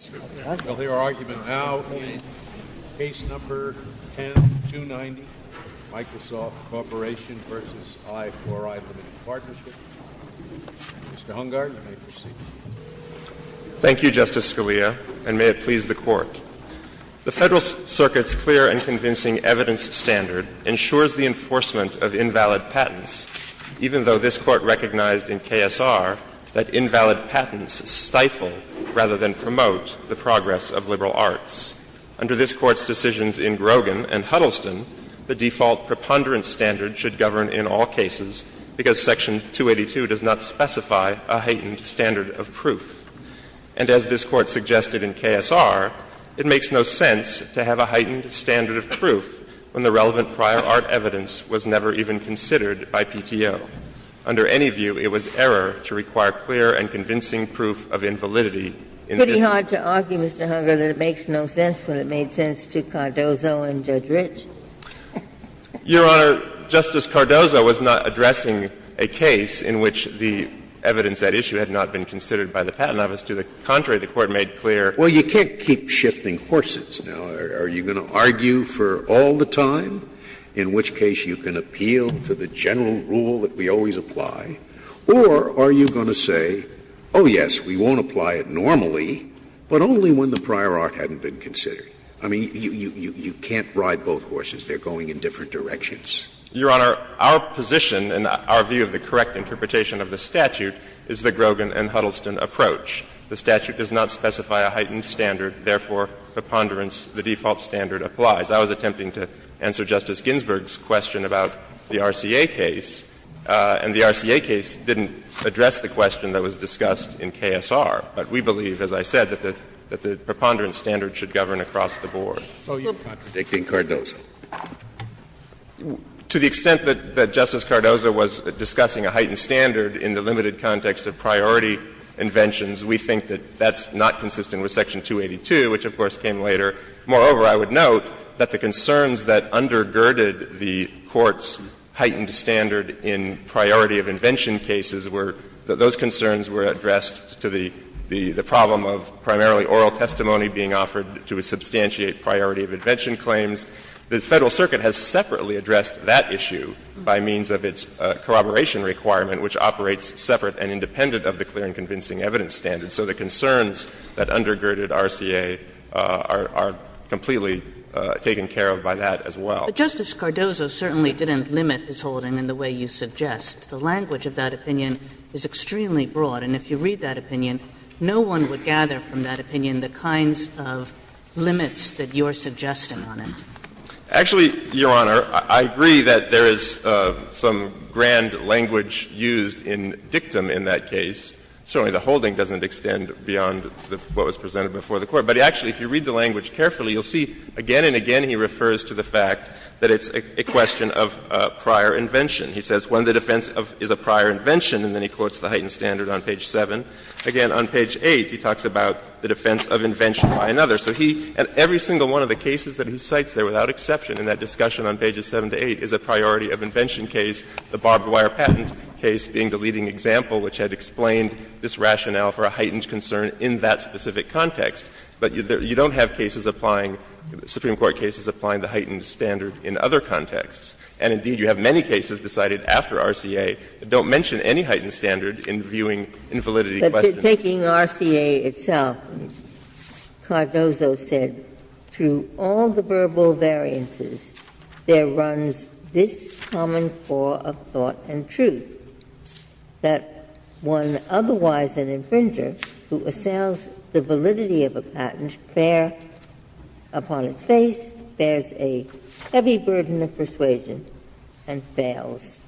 Mr. Hungard, you may proceed. Thank you, Justice Scalia, and may it please the Court. The Federal Circuit's clear and convincing evidence standard ensures the enforcement of invalid patents, even though this Court recognized in KSR that invalid patents stifle scrutiny rather than promote the progress of liberal arts. Under this Court's decisions in Grogan and Huddleston, the default preponderance standard should govern in all cases because Section 282 does not specify a heightened standard of proof. And as this Court suggested in KSR, it makes no sense to have a heightened standard of proof when the relevant prior art evidence was never even considered by PTO. Under any view, it was error to require clear and convincing proof of invalidity in this case. Pretty hard to argue, Mr. Hungard, that it makes no sense when it made sense to Cardozo and Judge Ritsch. Your Honor, Justice Cardozo was not addressing a case in which the evidence at issue had not been considered by the Patent Office. To the contrary, the Court made clear. Well, you can't keep shifting horses now. Are you going to argue for all the time, in which case you can appeal to the general rule that we always apply, or are you going to say, oh, yes, we won't apply it normally, but only when the prior art hadn't been considered? I mean, you can't ride both horses. They're going in different directions. Your Honor, our position and our view of the correct interpretation of the statute is the Grogan and Huddleston approach. The statute does not specify a heightened standard. Therefore, preponderance, the default standard, applies. I was attempting to answer Justice Ginsburg's question about the RCA case, and the RCA case didn't address the question that was discussed in KSR. But we believe, as I said, that the preponderance standard should govern across the board. So you're contradicting Cardozo? To the extent that Justice Cardozo was discussing a heightened standard in the limited context of priority inventions, we think that that's not consistent with Section 282, which of course came later. Moreover, I would note that the concerns that undergirded the Court's heightened standard in priority of invention cases were that those concerns were addressed to the problem of primarily oral testimony being offered to substantiate priority of invention claims. The Federal Circuit has separately addressed that issue by means of its corroboration requirement, which operates separate and independent of the clear and convincing evidence standard. So the concerns that undergirded RCA are completely taken care of by that as well. But Justice Cardozo certainly didn't limit his holding in the way you suggest. The language of that opinion is extremely broad. And if you read that opinion, no one would gather from that opinion the kinds of limits that you're suggesting on it. Actually, Your Honor, I agree that there is some grand language used in dictum in that case. Certainly the holding doesn't extend beyond what was presented before the Court. But actually, if you read the language carefully, you'll see again and again he refers to the fact that it's a question of prior invention. He says, when the defense is a prior invention, and then he quotes the heightened standard on page 7. Again, on page 8, he talks about the defense of invention by another. So he at every single one of the cases that he cites there without exception in that discussion on pages 7 to 8 is a priority of invention case, the barbed wire patent case being the leading example, which had explained this rationale for a heightened concern in that specific context. But you don't have cases applying, Supreme Court cases applying the heightened standard in other contexts. And indeed, you have many cases decided after RCA that don't mention any heightened standard in viewing invalidity questions. Ginsburg. But taking RCA itself, Cardozo said, through all the verbal variances, there runs this common flaw of thought and truth, that one otherwise an infringer who assails the validity of a patent, there upon its face bears a heavy burden of persuasion and fails,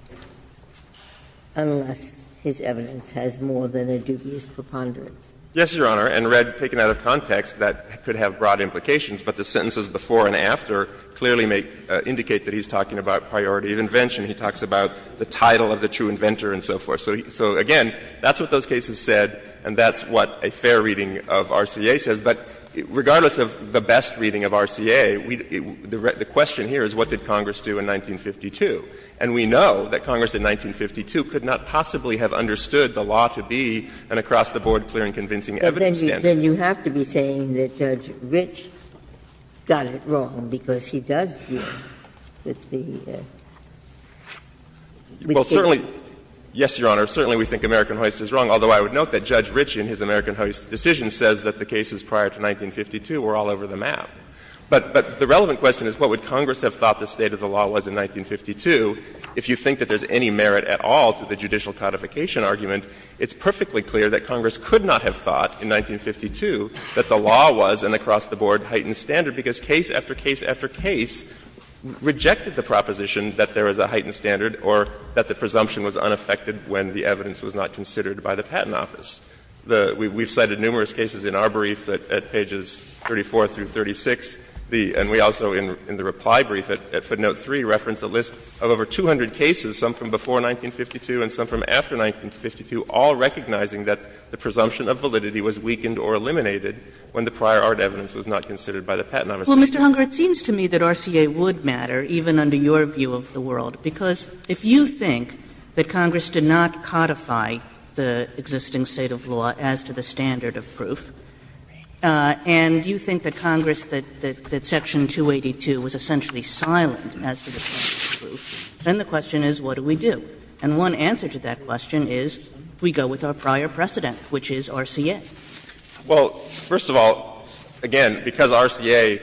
unless his evidence has more than a dubious preponderance. Yes, Your Honor. And Red, taken out of context, that could have broad implications. But the sentences before and after clearly indicate that he's talking about priority of invention. He talks about the title of the true inventor and so forth. So again, that's what those cases said, and that's what a fair reading of RCA says. But regardless of the best reading of RCA, the question here is what did Congress do in 1952? And we know that Congress in 1952 could not possibly have understood the law to be an across-the-board, clear and convincing evidence standard. Then you have to be saying that Judge Ritch got it wrong, because he does deal with the legitimacy. Well, certainly, yes, Your Honor, certainly we think American Hoist is wrong, although I would note that Judge Ritch in his American Hoist decision says that the cases prior to 1952 were all over the map. But the relevant question is what would Congress have thought the state of the law was in 1952 if you think that there's any merit at all to the judicial codification argument. It's perfectly clear that Congress could not have thought in 1952 that the law was an across-the-board heightened standard, because case after case after case rejected the proposition that there is a heightened standard or that the presumption was unaffected when the evidence was not considered by the Patent Office. We've cited numerous cases in our brief at pages 34 through 36, and we also in the reply brief at footnote 3 reference a list of over 200 cases, some from before 1952 and some from after 1952, all recognizing that the presumption of validity was weakened or eliminated when the prior art evidence was not considered by the Patent Office. Kagan Well, Mr. Hunger, it seems to me that RCA would matter, even under your view of the world, because if you think that Congress did not codify the existing state of law as to the standard of proof, and you think that Congress, that section 282 was essentially silent as to the standard of proof, then the question is what do we do? And one answer to that question is we go with our prior precedent, which is RCA. Hunger Well, first of all, again, because RCA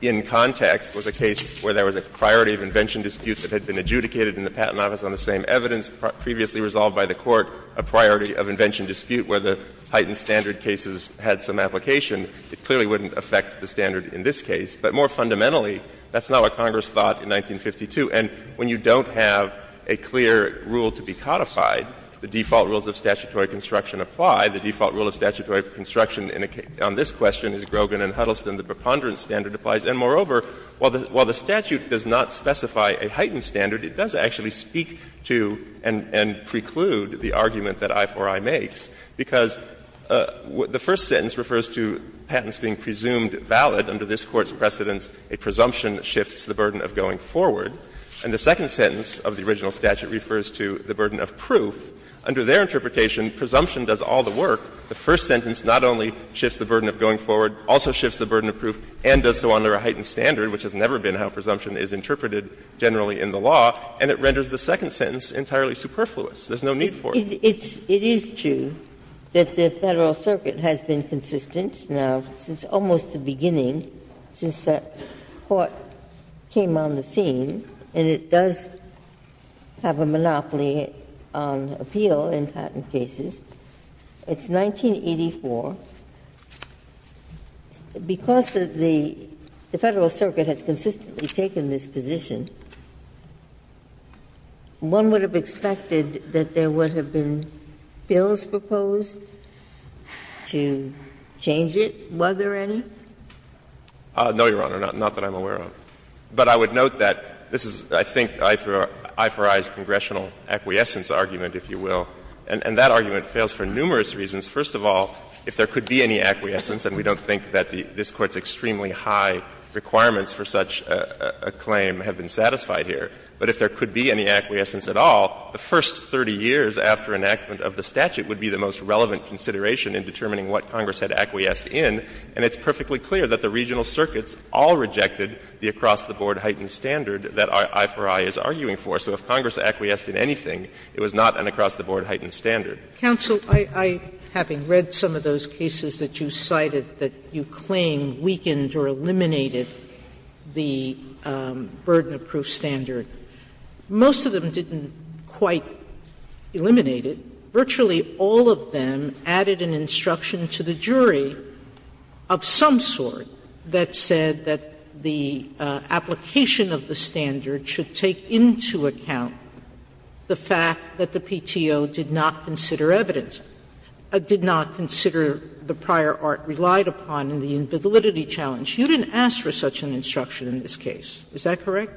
in context was a case where there was a priority of invention dispute that had been adjudicated in the Patent Office on the same evidence, previously resolved by the Court a priority of invention dispute where the heightened standard cases had some application, it clearly wouldn't affect the standard in this case. It's a clear rule to be codified. The default rules of statutory construction apply. The default rule of statutory construction on this question is Grogan and Huddleston. The preponderance standard applies. And, moreover, while the statute does not specify a heightened standard, it does actually speak to and preclude the argument that I4I makes, because the first sentence refers to patents being presumed valid under this Court's precedence, a presumption shifts the burden of going forward. And the second sentence of the original statute refers to the burden of proof. Under their interpretation, presumption does all the work. The first sentence not only shifts the burden of going forward, also shifts the burden of proof, and does so under a heightened standard, which has never been how presumption is interpreted generally in the law, and it renders the second sentence entirely superfluous. There's no need for it. Ginsburg It is true that the Federal Circuit has been consistent now since almost the beginning, since that Court came on the scene, and it does have a monopoly on appeal in patent cases. It's 1984. Because the Federal Circuit has consistently taken this position, one would have expected that there would have been bills proposed to change it, were there any? No, Your Honor, not that I'm aware of. But I would note that this is, I think, I4I's congressional acquiescence argument, if you will. And that argument fails for numerous reasons. First of all, if there could be any acquiescence, and we don't think that this Court's extremely high requirements for such a claim have been satisfied here, but if there could be any acquiescence at all, the first 30 years after enactment of the statute would be the most relevant consideration in determining what Congress had acquiesced in. And it's perfectly clear that the regional circuits all rejected the across-the-board heightened standard that I4I is arguing for. So if Congress acquiesced in anything, it was not an across-the-board heightened standard. Sotomayor Counsel, I, having read some of those cases that you cited that you claim weakened or eliminated the burden-approved standard, most of them didn't quite eliminate it. Virtually all of them added an instruction to the jury of some sort that said that the application of the standard should take into account the fact that the PTO did not consider evidence, did not consider the prior art relied upon in the validity challenge. You didn't ask for such an instruction in this case. Is that correct?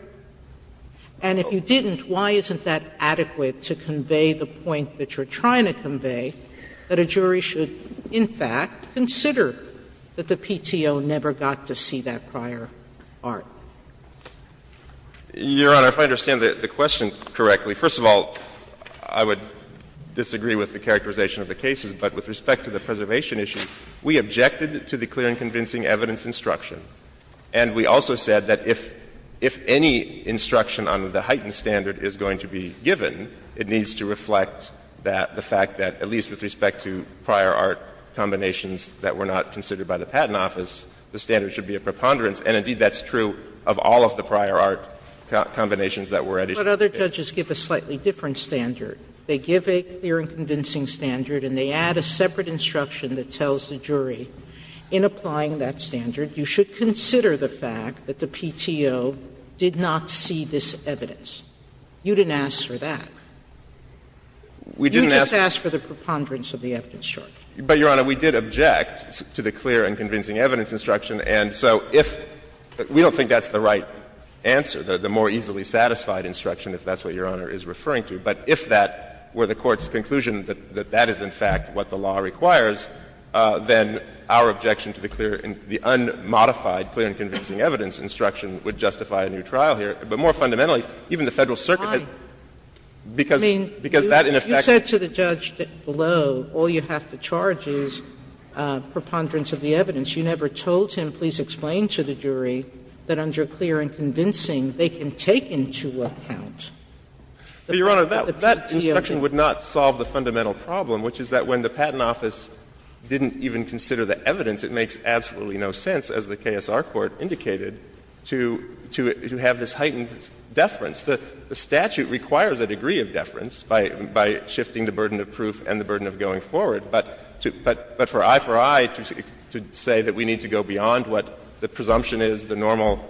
And if you didn't, why isn't that adequate to convey the point that you're trying to convey, that a jury should in fact consider that the PTO never got to see that prior art? Maddrey Your Honor, if I understand the question correctly, first of all, I would disagree with the characterization of the cases, but with respect to the preservation issue, we objected to the clear and convincing evidence instruction. And we also said that if any instruction on the heightened standard is going to be given, it needs to reflect that the fact that, at least with respect to prior art combinations that were not considered by the Patent Office, the standard should be a preponderance. And indeed, that's true of all of the prior art combinations that were at issue in this case. Sotomayor But other judges give a slightly different standard. They give a clear and convincing standard and they add a separate instruction that tells the jury, in applying that standard, you should consider the fact that the PTO did not see this evidence. You didn't ask for that. We didn't ask for that. Sotomayor You just asked for the preponderance of the evidence charge. Maddrey But, Your Honor, we did object to the clear and convincing evidence instruction. And so if we don't think that's the right answer, the more easily satisfied instruction, if that's what Your Honor is referring to, but if that were the Court's requires, then our objection to the clear and the unmodified clear and convincing evidence instruction would justify a new trial here. But more fundamentally, even the Federal Circuit had because that, in effect Sotomayor I mean, you said to the judge below, all you have to charge is preponderance of the evidence. You never told him, please explain to the jury that under clear and convincing, they can take into account the fact that the PTO Maddrey But, Your Honor, that instruction would not solve the fundamental problem, which is that when the Patent Office didn't even consider the evidence, it makes absolutely no sense, as the KSR Court indicated, to have this heightened deference. The statute requires a degree of deference by shifting the burden of proof and the burden of going forward, but for I for I to say that we need to go beyond what the presumption is, the normal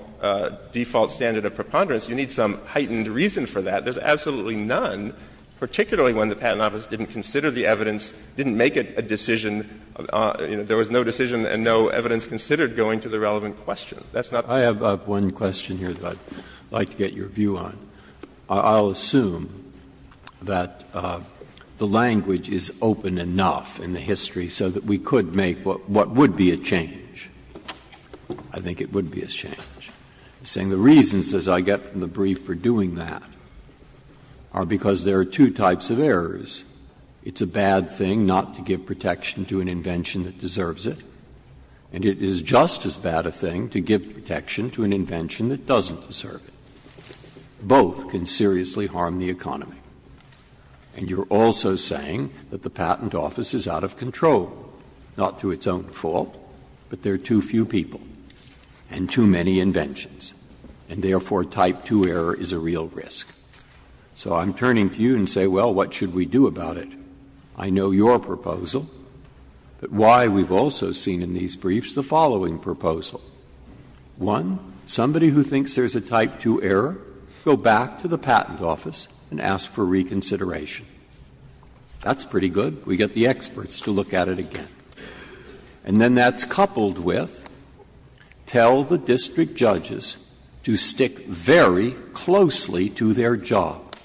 default standard of preponderance, you need some heightened reason for that. There's absolutely none, particularly when the Patent Office didn't consider the evidence, didn't make a decision, there was no decision and no evidence considered going to the relevant question. That's not I have one question here that I would like to get your view on. I'll assume that the language is open enough in the history so that we could make I think it would be a change. I'm saying the reasons, as I get from the brief, for doing that are because there are two types of errors. It's a bad thing not to give protection to an invention that deserves it, and it is just as bad a thing to give protection to an invention that doesn't deserve it. Both can seriously harm the economy. And you're also saying that the Patent Office is out of control, not through its own fault, but there are too few people and too many inventions, and therefore type 2 error is a real risk. So I'm turning to you and saying, well, what should we do about it? I know your proposal, but why we've also seen in these briefs the following proposal. One, somebody who thinks there's a type 2 error, go back to the Patent Office and ask for reconsideration. That's pretty good. We get the experts to look at it again. And then that's coupled with tell the district judges to stick very closely to their job.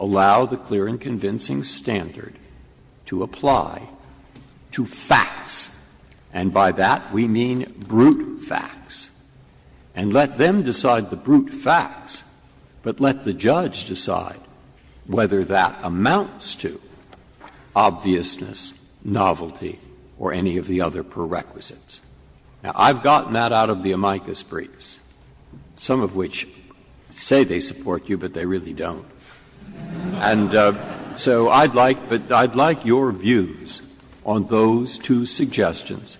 Allow the clear and convincing standard to apply to facts, and by that we mean brute facts. And let them decide the brute facts, but let the judge decide whether that amounts to obviousness, novelty, or any of the other prerequisites. Now, I've gotten that out of the amicus briefs, some of which say they support you, but they really don't. And so I'd like your views on those two suggestions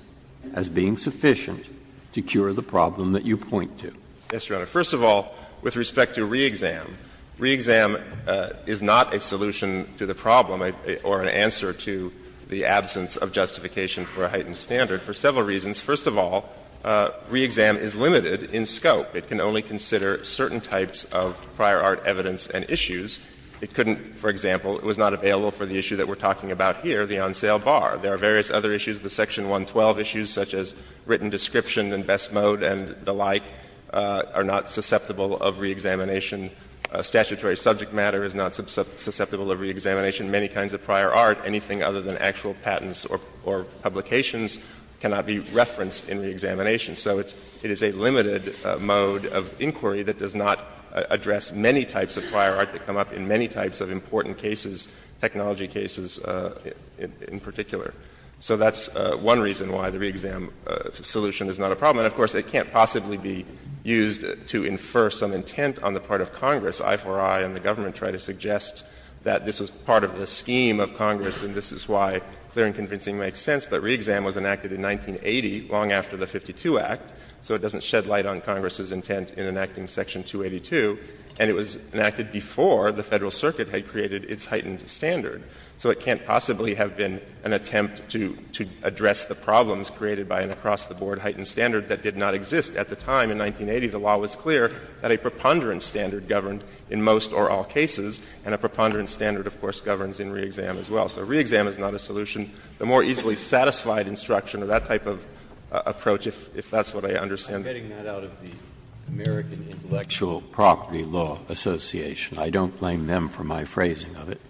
as being sufficient to cure the problem that you point to. First of all, with respect to reexam, reexam is not a solution to the problem or an answer to the absence of justification for a heightened standard for several reasons. First of all, reexam is limited in scope. It can only consider certain types of prior art evidence and issues. It couldn't, for example, it was not available for the issue that we're talking about here, the on sale bar. There are various other issues, the section 112 issues, such as written description and best mode and the like, are not susceptible of reexamination. Statutory subject matter is not susceptible of reexamination. Many kinds of prior art, anything other than actual patents or publications cannot be referenced in reexamination. So it's a limited mode of inquiry that does not address many types of prior art that come up in many types of important cases, technology cases in particular. So that's one reason why the reexam solution is not a problem. And of course, it can't possibly be used to infer some intent on the part of Congress. I4I and the government try to suggest that this was part of the scheme of Congress and this is why clearing and convincing makes sense. But reexam was enacted in 1980, long after the 52 Act, so it doesn't shed light on Congress's intent in enacting section 282. And it was enacted before the Federal Circuit had created its heightened standard. So it can't possibly have been an attempt to address the problems created by an across-the-board heightened standard that did not exist at the time in 1980. The law was clear that a preponderance standard governed in most or all cases, and a preponderance standard, of course, governs in reexam as well. So reexam is not a solution. The more easily satisfied instruction or that type of approach, if that's what I understand. Breyer, I'm getting that out of the American Intellectual Property Law Association. I don't blame them for my phrasing of it.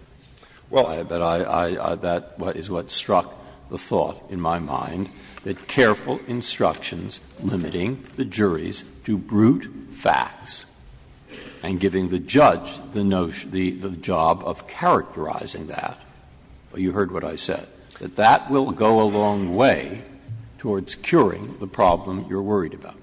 But I — that is what struck the thought in my mind, that careful instruction is limiting the juries to brute facts and giving the judge the notion, the job of characterizing that. You heard what I said, that that will go a long way towards curing the problem you're worried about.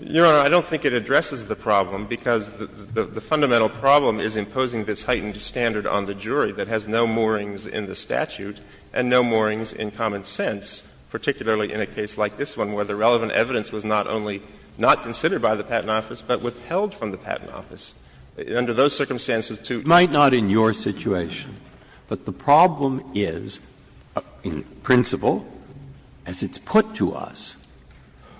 Your Honor, I don't think it addresses the problem, because the fundamental problem is imposing this heightened standard on the jury that has no moorings in the statute and no moorings in common sense, particularly in a case like this one, where the relevant evidence was not only not considered by the Patent Office, but withheld from the Patent Office. Under those circumstances, to — It might not in your situation, but the problem is, in principle, as it's put to us,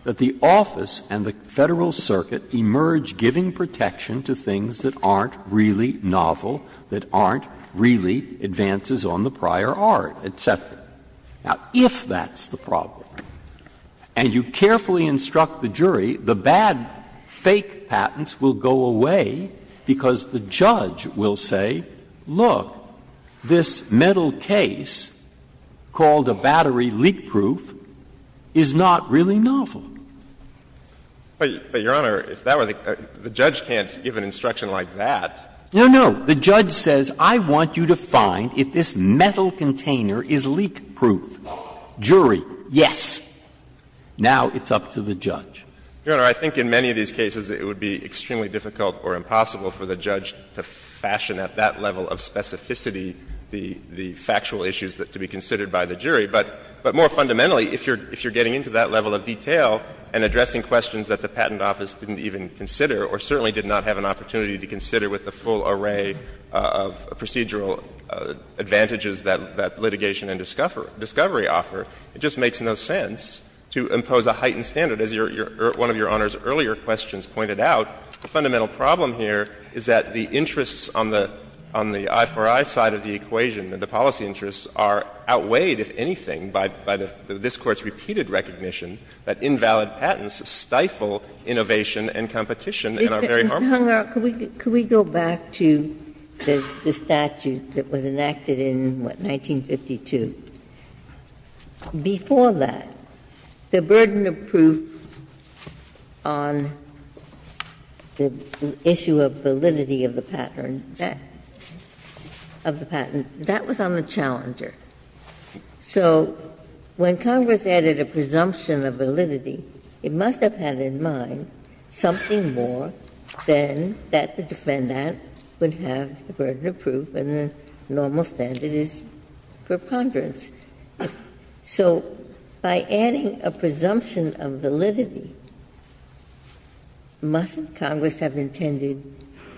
that the office and the Federal Circuit emerge giving protection to things that aren't really novel, that aren't really advances on the prior art, et cetera. Now, if that's the problem, and you carefully instruct the jury, the bad fake patents will go away, because the judge will say, look, this metal case called a battery leak proof is not really novel. But, Your Honor, if that were the case, the judge can't give an instruction like that. No, no. The judge says, I want you to find if this metal container is leak proof. Jury, yes. Now it's up to the judge. Your Honor, I think in many of these cases it would be extremely difficult or impossible for the judge to fashion at that level of specificity the factual issues that could be considered by the jury. But more fundamentally, if you're getting into that level of detail and addressing questions that the Patent Office didn't even consider or certainly did not have an idea of procedural advantages that litigation and discovery offer, it just makes no sense to impose a heightened standard. As one of Your Honor's earlier questions pointed out, the fundamental problem here is that the interests on the I4I side of the equation, the policy interests, are outweighed, if anything, by this Court's repeated recognition that invalid Mr. Hungar, could we go back to the statute that was enacted in, what, 1952? Before that, the burden of proof on the issue of validity of the patent, that was on the challenger. So when Congress added a presumption of validity, it must have had in mind something more than that the defendant would have the burden of proof and the normal standard is preponderance. So by adding a presumption of validity, mustn't Congress have intended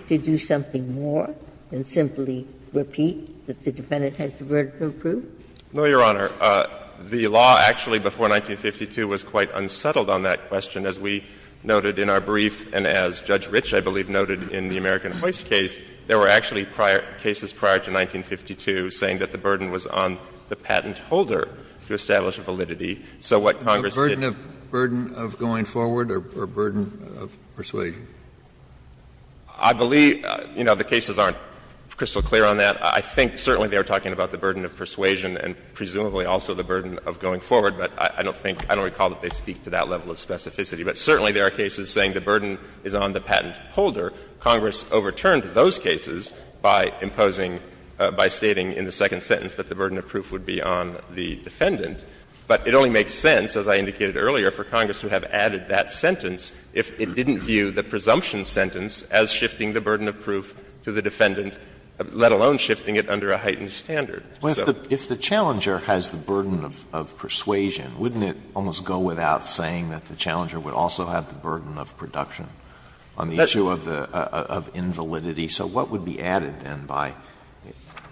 to do something more than simply repeat that the defendant has the burden of proof? No, Your Honor. The law actually before 1952 was quite unsettled on that question, as we noted in our brief and as Judge Ritsch, I believe, noted in the American Hoist case, there were actually prior cases prior to 1952 saying that the burden was on the patent holder to establish validity. So what Congress did was A burden of going forward or a burden of persuasion? I believe, you know, the cases aren't crystal clear on that. I think certainly they are talking about the burden of persuasion and presumably also the burden of going forward. But I don't think, I don't recall that they speak to that level of specificity. But certainly there are cases saying the burden is on the patent holder. Congress overturned those cases by imposing, by stating in the second sentence that the burden of proof would be on the defendant. But it only makes sense, as I indicated earlier, for Congress to have added that sentence if it didn't view the presumption sentence as shifting the burden of proof to the defendant, let alone shifting it under a heightened standard. So. Alito, if the challenger has the burden of persuasion, wouldn't it almost go without saying that the challenger would also have the burden of production on the issue of the, of invalidity? So what would be added then by,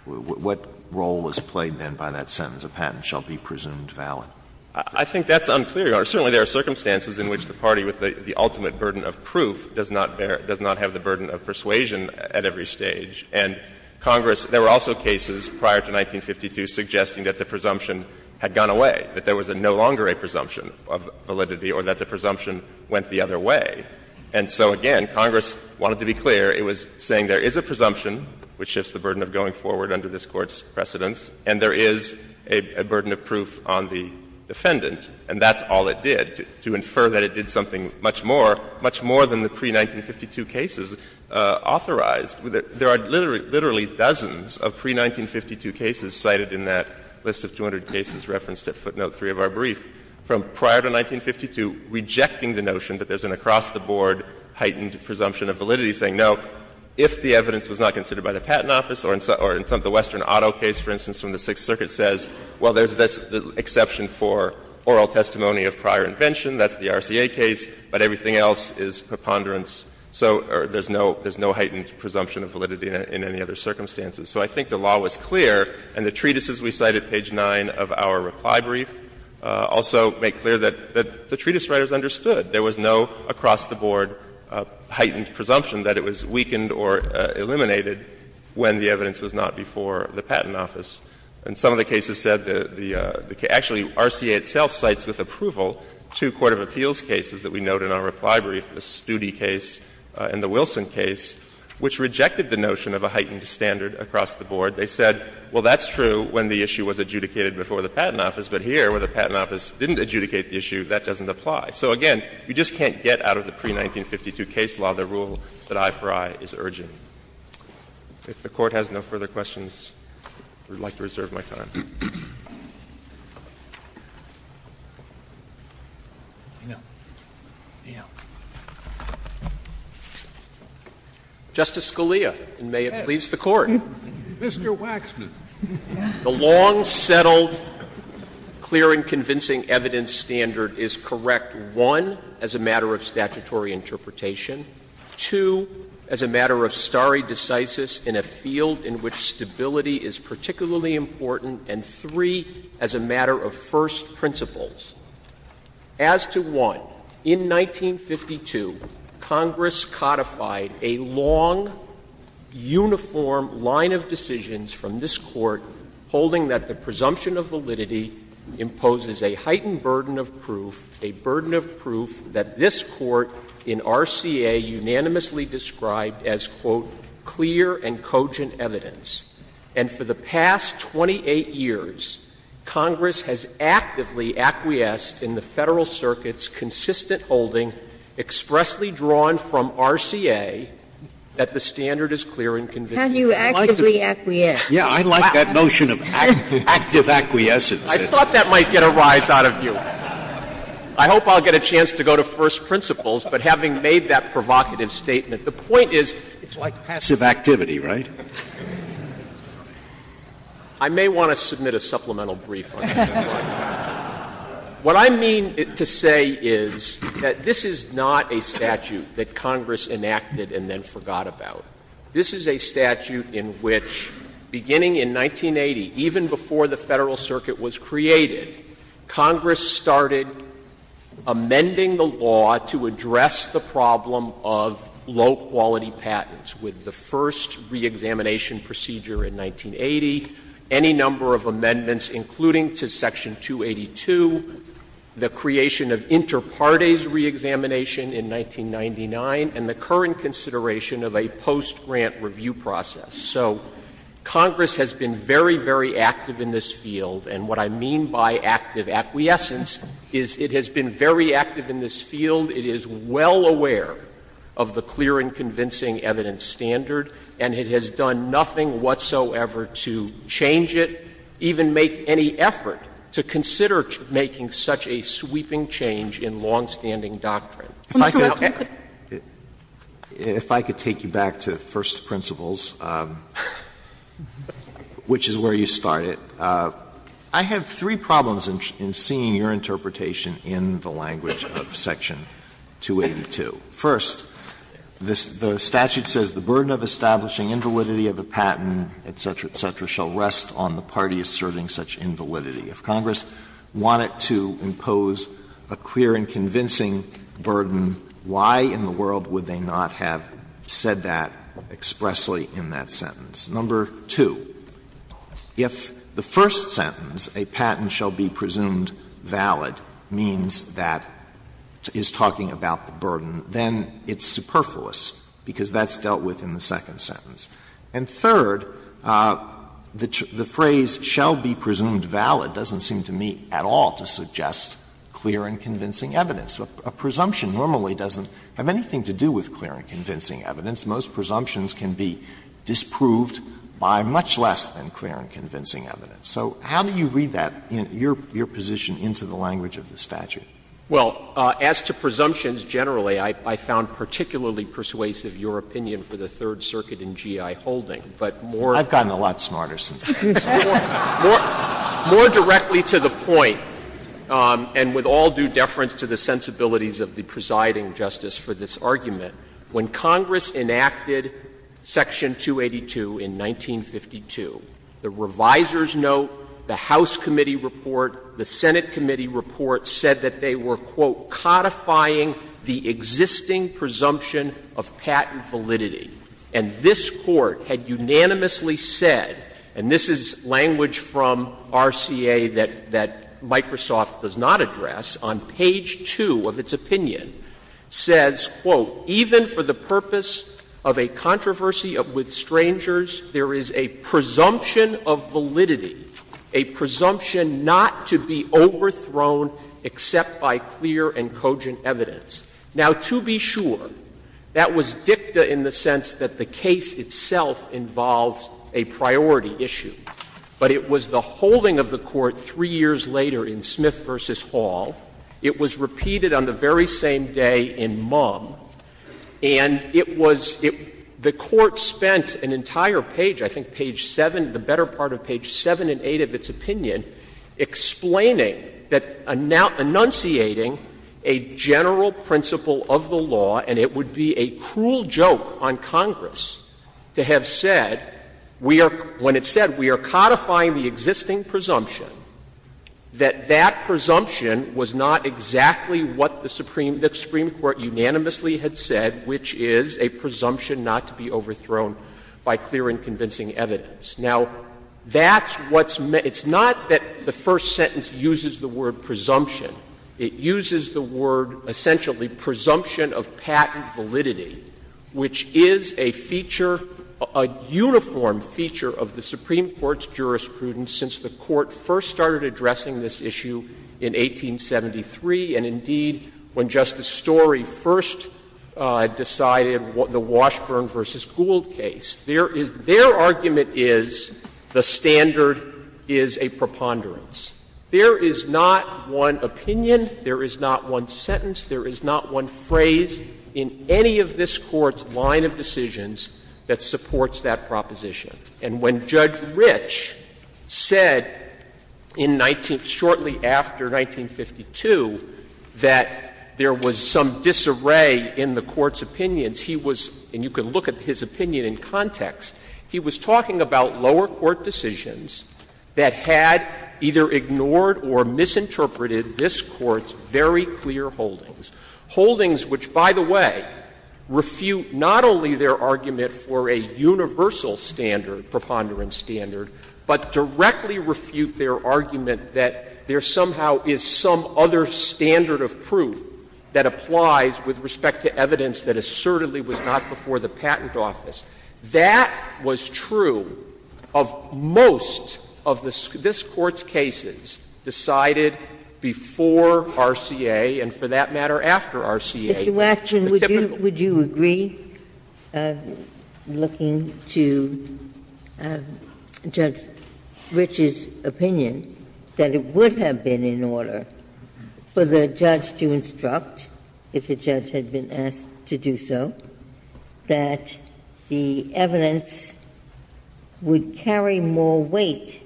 what role was played then by that sentence? A patent shall be presumed valid. I think that's unclear, Your Honor. Certainly there are circumstances in which the party with the ultimate burden of proof does not bear, does not have the burden of persuasion at every stage. And Congress, there were also cases prior to 1952 suggesting that the presumption had gone away, that there was no longer a presumption of validity or that the presumption went the other way. And so, again, Congress wanted to be clear. It was saying there is a presumption which shifts the burden of going forward under this Court's precedence, and there is a burden of proof on the defendant, and that's all it did. To infer that it did something much more, much more than the pre-1952 cases authorized with it, there are literally dozens of pre-1952 cases cited in that list of 200 cases referenced at footnote 3 of our brief, from prior to 1952 rejecting the notion that there's an across-the-board heightened presumption of validity, saying, no, if the evidence was not considered by the Patent Office or in some of the Western Auto case, for instance, from the Sixth Circuit, says, well, there's this exception for oral testimony of prior invention, that's the RCA case, but everything else is preponderance or there's no heightened presumption of validity in any other circumstances. So I think the law was clear, and the treatises we cite at page 9 of our reply brief also make clear that the treatise writers understood. There was no across-the-board heightened presumption that it was weakened or eliminated when the evidence was not before the Patent Office. And some of the cases said that the case – actually, RCA itself cites with approval two court of appeals cases that we note in our reply brief, the Studi case and the Wilson case, which rejected the notion of a heightened standard across-the-board. They said, well, that's true when the issue was adjudicated before the Patent Office, but here, where the Patent Office didn't adjudicate the issue, that doesn't apply. So, again, you just can't get out of the pre-1952 case law the rule that I for I is urgent. If the Court has no further questions, I would like to reserve my time. Justice Scalia, and may it please the Court. Scalia, Mr. Waxman. The long-settled, clear and convincing evidence standard is correct, one, as a matter of statutory interpretation, two, as a matter of stare decisis in a field in which stability is particularly important, and three, as a matter of first principles. As to one, in 1952, Congress codified a long, uniform line of decisions from this Court holding that the presumption of validity imposes a heightened burden of proof, a burden of proof that this Court in RCA unanimously described as, quote, clear and convincing. And for the past 28 years, Congress has actively acquiesced in the Federal Circuit's consistent holding expressly drawn from RCA that the standard is clear and convincing. Have you actively acquiesced? Scalia. Yeah, I like that notion of active acquiescence. I thought that might get a rise out of you. I hope I'll get a chance to go to first principles, but having made that provocative statement, the point is it's like passive activity, right? I may want to submit a supplemental brief on that. What I mean to say is that this is not a statute that Congress enacted and then forgot about. This is a statute in which, beginning in 1980, even before the Federal Circuit was created, Congress started amending the law to address the problem of low-quality patents with the first reexamination procedure in 1980, any number of amendments including to Section 282, the creation of interparties reexamination in 1999, and the current consideration of a post-grant review process. So Congress has been very, very active in this field, and what I mean by active acquiescence is it has been very active in this field, it is well aware of the clear and convincing evidence standard, and it has done nothing whatsoever to change it, even make any effort to consider making such a sweeping change in longstanding doctrine. If I could take you back to first principles, which is where you started, I have three problems in seeing your interpretation in the language of Section 282. First, the statute says, ''The burden of establishing invalidity of the patent, etc., etc., shall rest on the party asserting such invalidity.'' If Congress wanted to impose a clear and convincing burden, why in the world would they not have said that expressly in that sentence? Number two, if the first sentence, ''A patent shall be presumed valid'' means that it's talking about the burden, then it's superfluous, because that's dealt with in the second sentence. And third, the phrase ''shall be presumed valid'' doesn't seem to me at all to suggest clear and convincing evidence. A presumption normally doesn't have anything to do with clear and convincing evidence. Most presumptions can be disproved by much less than clear and convincing evidence. So how do you read that, your position into the language of the statute? Well, as to presumptions generally, I found particularly persuasive your opinion for the Third Circuit in GI Holding, but more. I've gotten a lot smarter since then. More directly to the point, and with all due deference to the sensibilities of the presiding justice for this argument, when Congress enacted Section 282 in 1952, the reviser's note, the House committee report, the Senate committee report said that they were, quote, ''codifying the existing presumption of patent validity.'' And this Court had unanimously said, and this is language from RCA that Microsoft does not address, on page 2 of its opinion, says, quote, ''Even for the purpose of a controversy with strangers, there is a presumption of validity, a presumption not to be overthrown except by clear and cogent evidence.'' Now, to be sure, that was dicta in the sense that the case itself involves a priority issue. But it was the holding of the Court three years later in Smith v. Hall. It was repeated on the very same day in Mumm. And it was the Court spent an entire page, I think page 7, the better part of page 7 and 8 of its opinion, explaining that enunciating a general principle of the law, and it would be a cruel joke on Congress to have said, when it said, ''We are codifying the existing presumption,'' that that presumption was not exactly what the Supreme Court unanimously had said, which is a presumption not to be overthrown by clear and convincing evidence. Now, that's what's meant — it's not that the first sentence uses the word ''presumption.'' It uses the word, essentially, ''presumption of patent validity,'' which is a feature — a uniform feature of the Supreme Court's jurisprudence since the Court first started addressing this issue in 1873 and, indeed, when Justice Story first decided the Washburn v. Gould case. There is — their argument is the standard is a preponderance. There is not one opinion, there is not one sentence, there is not one phrase in any of this Court's line of decisions that supports that proposition. And when Judge Ritsch said in 19 — shortly after 1952 that there was some disarray in the Court's opinions, he was — and you can look at his opinion in context — he was talking about lower court decisions that had either ignored or misinterpreted this Court's very clear holdings. Holdings, which, by the way, refute not only their argument for a universal standard, preponderance standard, but directly refute their argument that there somehow is some other standard of proof that applies with respect to evidence that assertedly was not before the patent office, that was true of most of this Court's cases, that was true of most of the cases that were after RCA. Ginsburg. Mr. Washburn, would you agree, looking to Judge Ritsch's opinion, that it would have been in order for the judge to instruct, if the judge had been asked to do so, that the evidence would carry more weight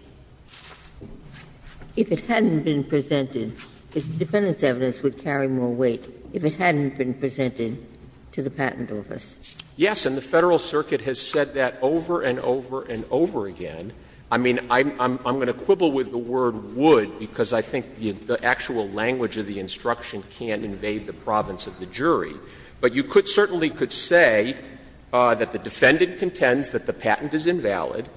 if it hadn't been presented? Because the defendant's evidence would carry more weight if it hadn't been presented to the patent office. Waxman. Yes, and the Federal Circuit has said that over and over and over again. I mean, I'm going to quibble with the word »would« because I think the actual language of the instruction can't invade the province of the jury. But you could certainly could say that the defendant contends that the patent is invalid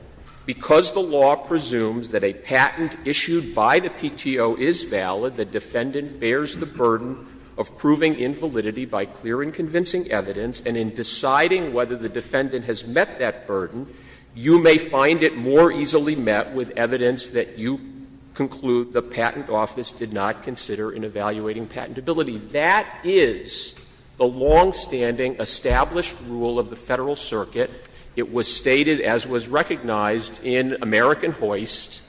because the law presumes that a patent issued by the PTO is valid, the defendant bears the burden of proving invalidity by clear and convincing evidence, and in deciding whether the defendant has met that burden, you may find it more easily met with evidence that you conclude the patent office did not consider in evaluating patentability. That is the longstanding established rule of the Federal Circuit. It was stated, as was recognized, in American Hoist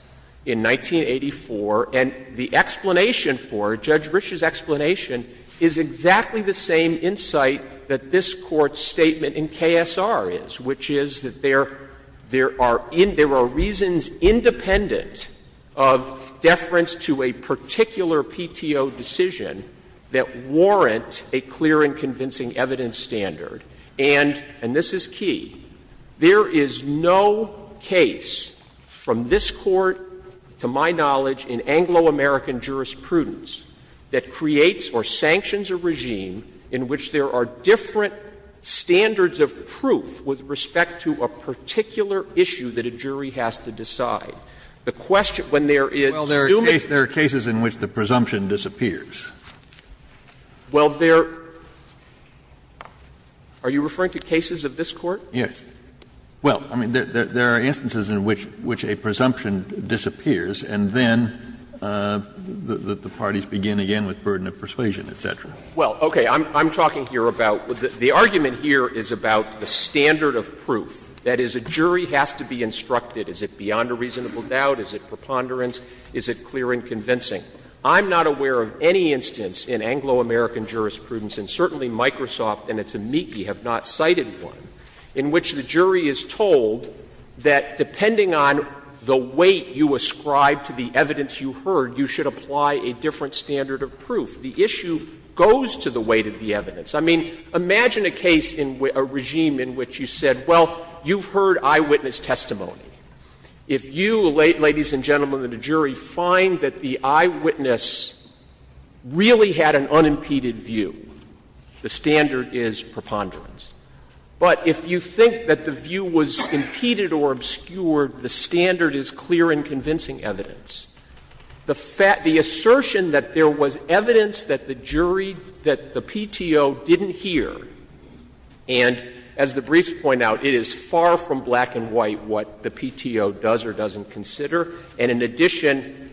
in 1984, and the explanation for it, Judge Risch's explanation, is exactly the same insight that this Court's statement in KSR is, which is that there are reasons independent of deference to a particular PTO decision that warrant a clear and convincing evidence standard. And, and this is key, there is no case from this Court, to my knowledge, in Anglo-American jurisprudence, that creates or sanctions a regime in which there are different standards of proof with respect to a particular issue that a jury has to decide. The question, when there is numismatic Well, there are cases in which the presumption disappears. Well, there are you referring to cases of this Court? Yes. Well, I mean, there are instances in which a presumption disappears and then the parties begin again with burden of persuasion, et cetera. Well, okay. I'm talking here about the argument here is about the standard of proof. That is, a jury has to be instructed. Is it beyond a reasonable doubt? Is it preponderance? Is it clear and convincing? I'm not aware of any instance in Anglo-American jurisprudence, and certainly Microsoft and its amici have not cited one, in which the jury is told that depending on the weight you ascribe to the evidence you heard, you should apply a different standard of proof. The issue goes to the weight of the evidence. I mean, imagine a case in a regime in which you said, well, you've heard eyewitness testimony. If you, ladies and gentlemen of the jury, find that the eyewitness really had an unimpeded view, the standard is preponderance. But if you think that the view was impeded or obscured, the standard is clear and convincing evidence. The assertion that there was evidence that the jury, that the PTO didn't hear, and as the briefs point out, it is far from black and white what the PTO does or doesn't consider. And in addition,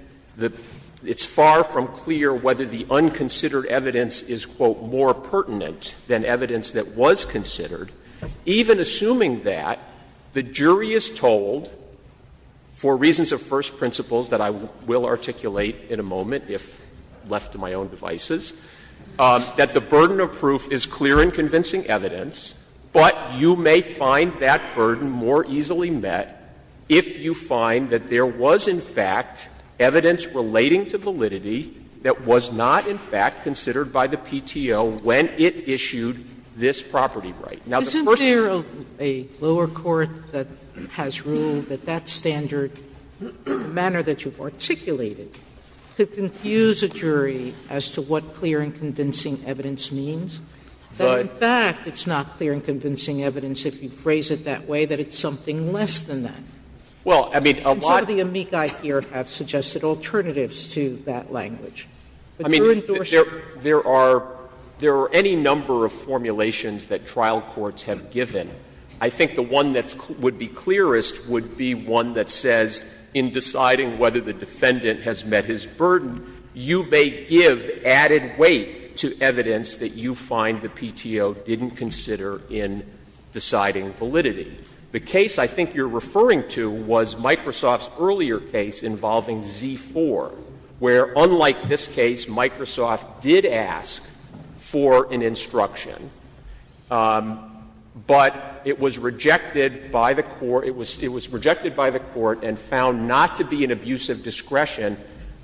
it's far from clear whether the unconsidered evidence is, quote, more pertinent than evidence that was considered. Even assuming that, the jury is told, for reasons of first principles that I will articulate in a moment, if left to my own devices, that the burden of proof is clear and convincing evidence, but you may find that burden more easily met if you find that there was, in fact, evidence relating to validity that was not, in fact, considered by the PTO when it issued this property right. Now, the first thing you can do is say, well, I don't know, I don't know, I don't In fact, it's not clear and convincing evidence if you phrase it that way that it's something less than that. Well, I mean, a lot of the amici here have suggested alternatives to that language. I mean, there are, there are any number of formulations that trial courts have given. I think the one that would be clearest would be one that says, in deciding whether the defendant has met his burden, you may give added weight to evidence that you find that the PTO didn't consider in deciding validity. The case I think you're referring to was Microsoft's earlier case involving Z-4, where, unlike this case, Microsoft did ask for an instruction, but it was rejected by the court, it was rejected by the court and found not to be an abuse of discretion.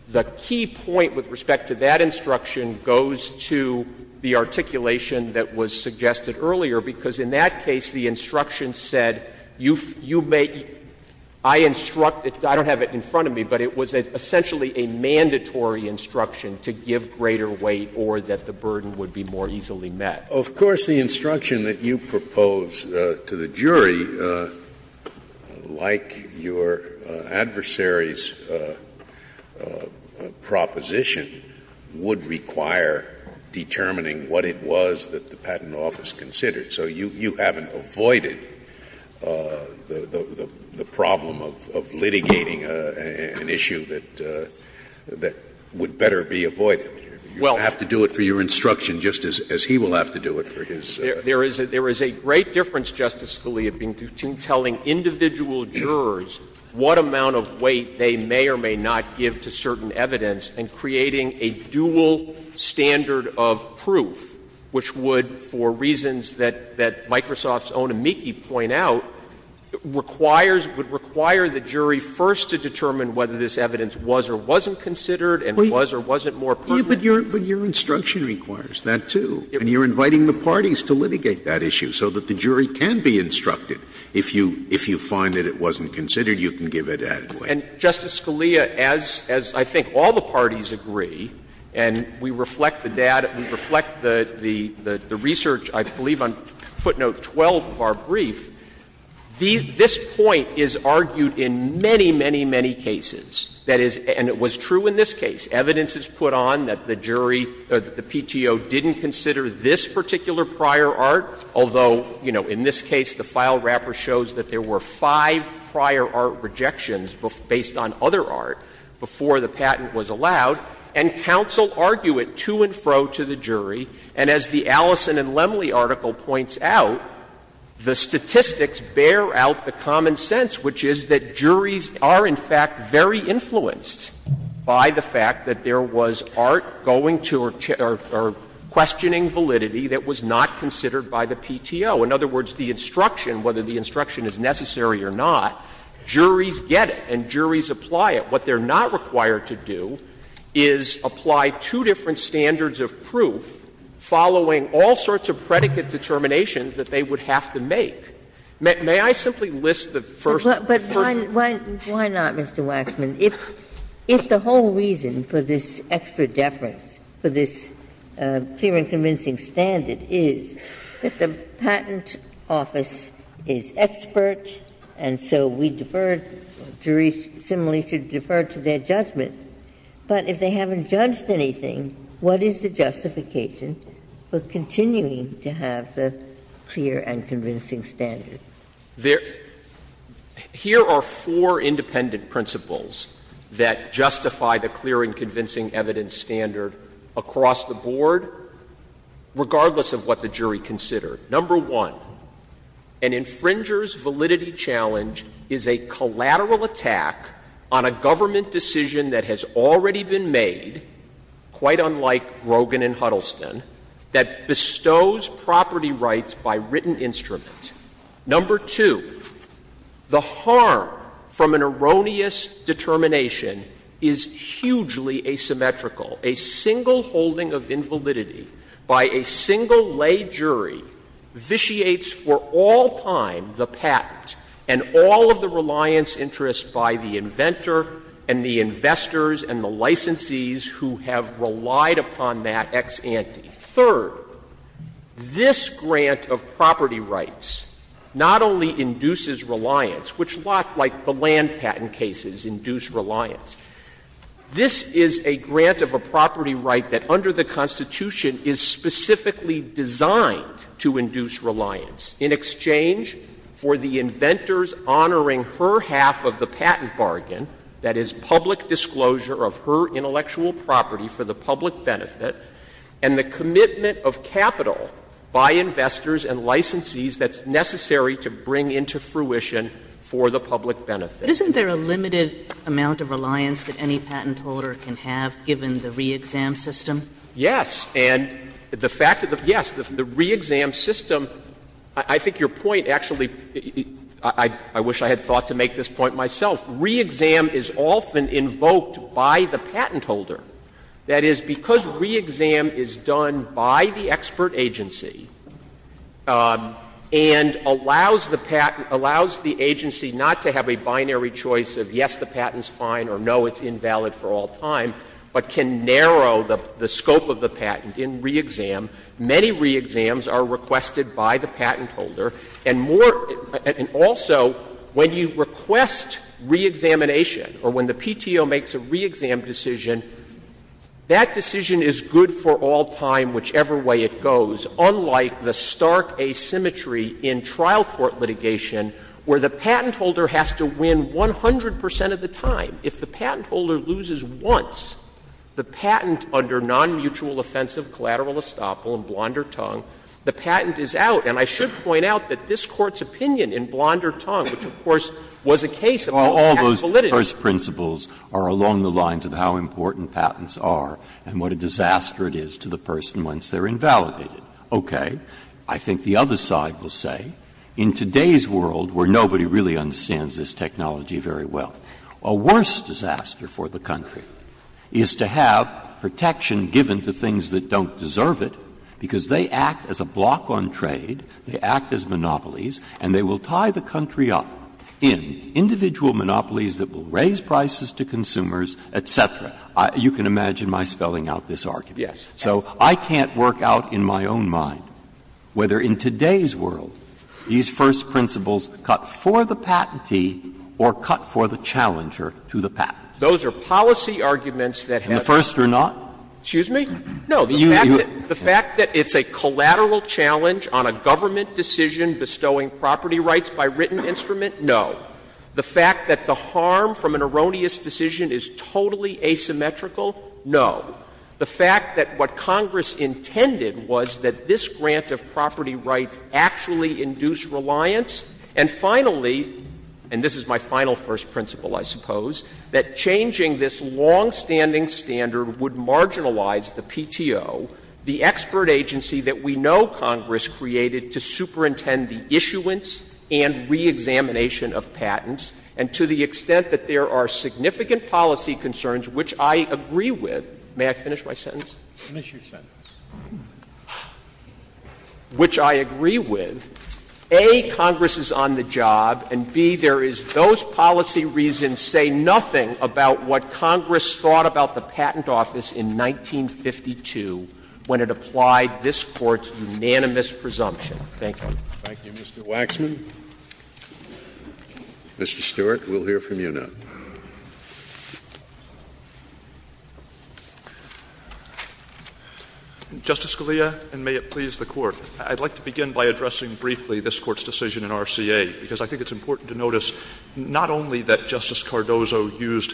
The key point with respect to that instruction goes to the articulation that was suggested earlier, because in that case the instruction said, you may, I instruct you, I don't have it in front of me, but it was essentially a mandatory instruction to give greater weight or that the burden would be more easily met. Scalia, of course, the instruction that you propose to the jury, like your adversaries proposition, would require determining what it was that the Patent Office considered. So you haven't avoided the problem of litigating an issue that would better be avoided. You don't have to do it for your instruction just as he will have to do it for his. There is a great difference, Justice Scalia, between telling individual jurors what amount of weight they may or may not give to certain evidence and creating a dual standard of proof, which would, for reasons that Microsoft's own amici point out, requires the jury first to determine whether this evidence was or wasn't considered and was or wasn't more pertinent. Scalia, but your instruction requires that, too. And you're inviting the parties to litigate that issue so that the jury can be instructed. If you find that it wasn't considered, you can give it added weight. Waxman, and we reflect the research, I believe, on footnote 12 of our brief, this point is argued in many, many, many cases, and it was true in this case. Evidence is put on that the jury or that the PTO didn't consider this particular prior art, although, you know, in this case, the file wrapper shows that there were five prior art rejections based on other art before the patent was allowed, and counsel argue it to and fro to the jury. And as the Allison and Lemley article points out, the statistics bear out the common sense, which is that juries are, in fact, very influenced by the fact that there was art going to or questioning validity that was not considered by the PTO. In other words, the instruction, whether the instruction is necessary or not, juries get it and juries apply it. What they're not required to do is apply two different standards of proof following all sorts of predicate determinations that they would have to make. May I simply list the first? Ginsburg. But why not, Mr. Waxman, if the whole reason for this extra deference, for this clear and convincing standard, is that the patent office is expert and so we deferred the jury similarly should defer to their judgment, but if they haven't judged anything, what is the justification for continuing to have the clear and convincing standard? Here are four independent principles that justify the clear and convincing evidence standard across the board, regardless of what the jury considered. Number one, an infringer's validity challenge is a collateral attack on a government decision that has already been made, quite unlike Rogin and Huddleston, that bestows property rights by written instrument. Number two, the harm from an erroneous determination is hugely asymmetrical. A single holding of invalidity by a single lay jury vitiates for all time the patent and all of the reliance interests by the inventor and the investors and the licensees Third, this grant of property rights not only induces reliance, which a lot like the land patent cases induce reliance, this is a grant of a property right that under the Constitution is specifically designed to induce reliance in exchange for the inventors honoring her half of the patent bargain, that is, public disclosure of her intellectual property for the public benefit, and the commitment of capital by investors and licensees that's necessary to bring into fruition for the public benefit. Kagan Isn't there a limited amount of reliance that any patent holder can have, given the re-exam system? Waxman Yes. And the fact that the yes, the re-exam system, I think your point actually — I wish I had thought to make this point myself — re-exam is often invoked by the patent holder. That is, because re-exam is done by the expert agency and allows the patent — allows the agency not to have a binary choice of yes, the patent's fine or no, it's invalid for all time, but can narrow the scope of the patent in re-exam, many re-exams are requested by the patent holder. And more — and also, when you request re-examination or when the PTO makes a re-exam decision, that decision is good for all time, whichever way it goes, unlike the stark asymmetry in trial court litigation where the patent holder has to win 100 percent of the time. If the patent holder loses once, the patent under non-mutual offensive collateral in Blondertongue, the patent is out. And I should point out that this Court's opinion in Blondertongue, which, of course, was a case of all-capital litigation. Breyer's principles are along the lines of how important patents are and what a disaster it is to the person once they're invalidated. Okay. I think the other side will say, in today's world where nobody really understands this technology very well, a worse disaster for the country is to have protection given to things that don't deserve it, because they act as a block on trade, they act as monopolies, and they will tie the country up in individual monopolies that will raise prices to consumers, et cetera. You can imagine my spelling out this argument. So I can't work out in my own mind whether in today's world these first principles cut for the patentee or cut for the challenger to the patent. Those are policy arguments that have been used in the past. And the first are not? Excuse me? No. The fact that it's a collateral challenge on a government decision bestowing property rights by written instrument, no. The fact that the harm from an erroneous decision is totally asymmetrical, no. The fact that what Congress intended was that this grant of property rights actually induce reliance, and finally, and this is my final first principle, I suppose, that changing this longstanding standard would marginalize the PTO, the expert agency that we know Congress created to superintend the issuance and reexamination of patents, and to the extent that there are significant policy concerns, which I agree with, may I finish my sentence? Finish your sentence. Which I agree with, A, Congress is on the job, and B, there is those policy reasons that have been used in the past, and C, Congress is on the job, and D, Congress is on the job, and I can say nothing about what Congress thought about the patent office in 1952 when it applied this Court's unanimous presumption. Thank you. Thank you, Mr. Waxman. Mr. Stewart, we'll hear from you now. Justice Scalia, and may it please the Court, I'd like to begin by addressing briefly this Court's decision in RCA, because I think it's important to notice not only that Justice Cardozo used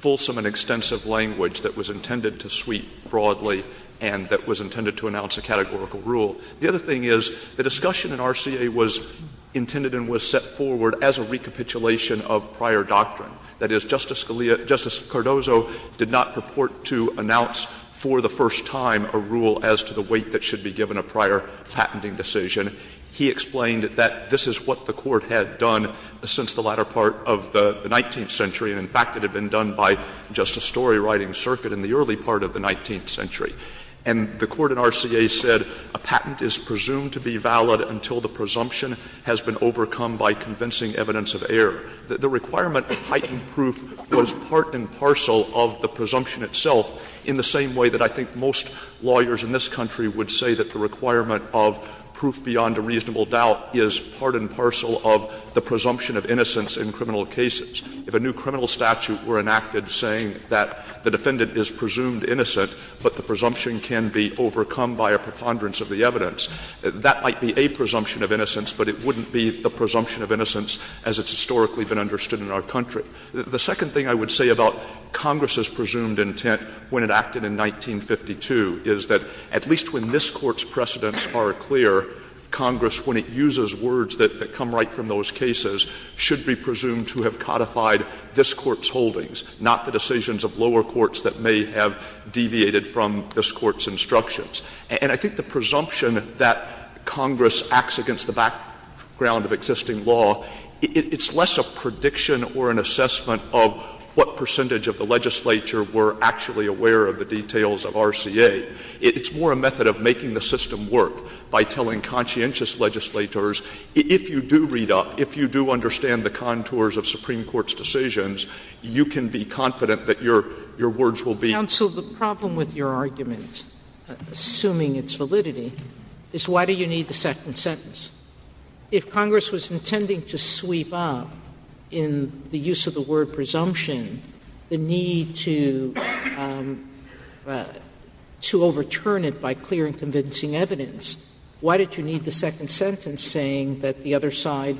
fulsome and extensive language that was intended to sweep broadly and that was intended to announce a categorical rule. The other thing is the discussion in RCA was intended and was set forward as a recapitulation of prior doctrine. That is, Justice Scalia — Justice Cardozo did not purport to announce for the first time a rule as to the weight that should be given a prior patenting decision. He explained that this is what the Court had done since the latter part of the 19th century, and, in fact, it had been done by Justice Storywriting Circuit in the early part of the 19th century. And the Court in RCA said a patent is presumed to be valid until the presumption has been overcome by convincing evidence of error. The requirement of heightened proof was part and parcel of the presumption itself in the same way that I think most lawyers in this country would say that the requirement of proof beyond a reasonable doubt is part and parcel of the presumption of innocence in criminal cases. If a new criminal statute were enacted saying that the defendant is presumed innocent, but the presumption can be overcome by a preponderance of the evidence, that might be a presumption of innocence, but it wouldn't be the presumption of innocence as it's historically been understood in our country. The second thing I would say about Congress's presumed intent when it acted in 1952 is that at least when this Court's precedents are clear, Congress, when it uses words that come right from those cases, should be presumed to have codified this Court's holdings, not the decisions of lower courts that may have deviated from this Court's instructions. And I think the presumption that Congress acts against the background of existing law, it's less a prediction or an assessment of what percentage of the legislature were actually aware of the details of RCA. It's more a method of making the system work by telling conscientious legislators, if you do read up, if you do understand the contours of Supreme Court's decisions, you can be confident that your words will be. Sotomayor, the problem with your argument, assuming its validity, is why do you need the second sentence? If Congress was intending to sweep up in the use of the word presumption the need to overturn it by clear and convincing evidence, why did you need the second sentence saying that the other side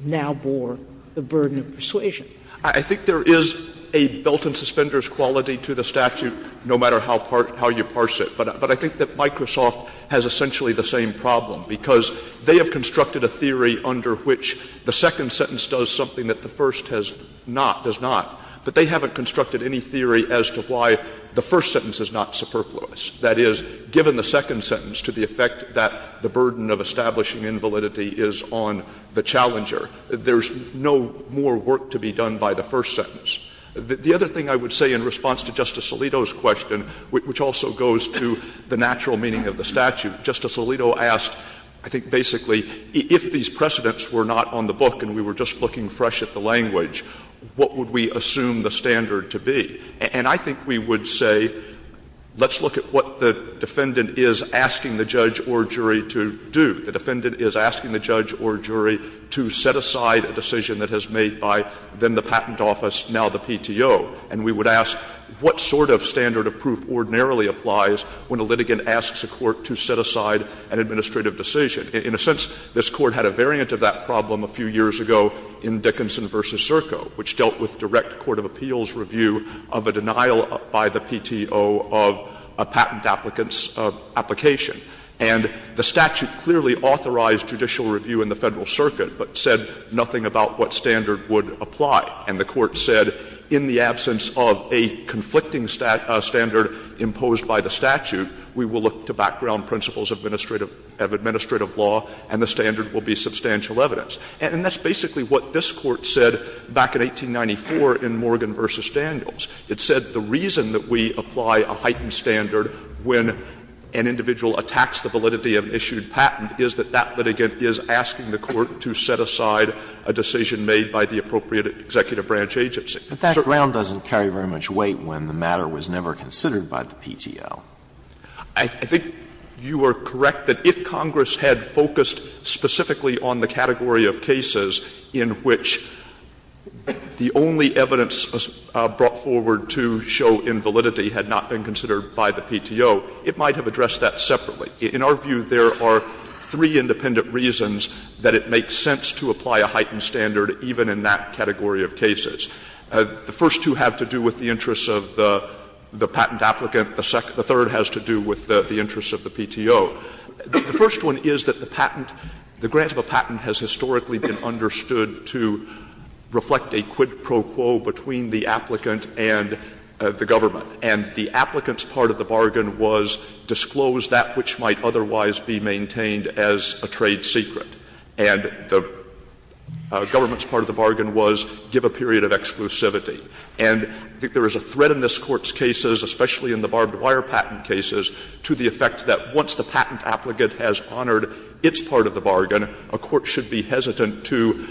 now bore the burden of persuasion? I think there is a belt-and-suspenders quality to the statute, no matter how you parse it. But I think that Microsoft has essentially the same problem, because they have constructed a theory under which the second sentence does something that the first has not, does not. But they haven't constructed any theory as to why the first sentence is not superfluous. That is, given the second sentence to the effect that the burden of establishing invalidity is on the challenger, there is no more work to be done by the first sentence. The other thing I would say in response to Justice Alito's question, which also goes to the natural meaning of the statute, Justice Alito asked, I think basically, if these precedents were not on the book and we were just looking fresh at the language, what would we assume the standard to be? And I think we would say, let's look at what the defendant is asking the judge or jury to do. The defendant is asking the judge or jury to set aside a decision that has made by then the patent office, now the PTO. And we would ask, what sort of standard of proof ordinarily applies when a litigant asks a court to set aside an administrative decision? In a sense, this Court had a variant of that problem a few years ago in Dickinson v. Zirko, which dealt with direct court of appeals review of a denial by the PTO of a patent applicant's application. And the statute clearly authorized judicial review in the Federal Circuit, but said nothing about what standard would apply. And the Court said, in the absence of a conflicting standard imposed by the statute, we will look to background principles of administrative law and the standard will be substantial evidence. And that's basically what this Court said back in 1894 in Morgan v. Daniels. It said the reason that we apply a heightened standard when an individual attacks the validity of an issued patent is that that litigant is asking the court to set aside a decision made by the appropriate executive branch agency. But that ground doesn't carry very much weight when the matter was never considered by the PTO. I think you are correct that if Congress had focused specifically on the category of cases in which the only evidence brought forward to show invalidity had not been considered by the PTO, it might have addressed that separately. In our view, there are three independent reasons that it makes sense to apply a heightened standard even in that category of cases. The first two have to do with the interests of the patent applicant. The third has to do with the interests of the PTO. The first one is that the patent, the grant of a patent has historically been understood to reflect a quid pro quo between the applicant and the government. And the applicant's part of the bargain was disclose that which might otherwise be maintained as a trade secret. And the government's part of the bargain was give a period of exclusivity. And there is a threat in this Court's cases, especially in the barbed wire patent cases, to the effect that once the patent applicant has honored its part of the bargain, a court should be hesitant to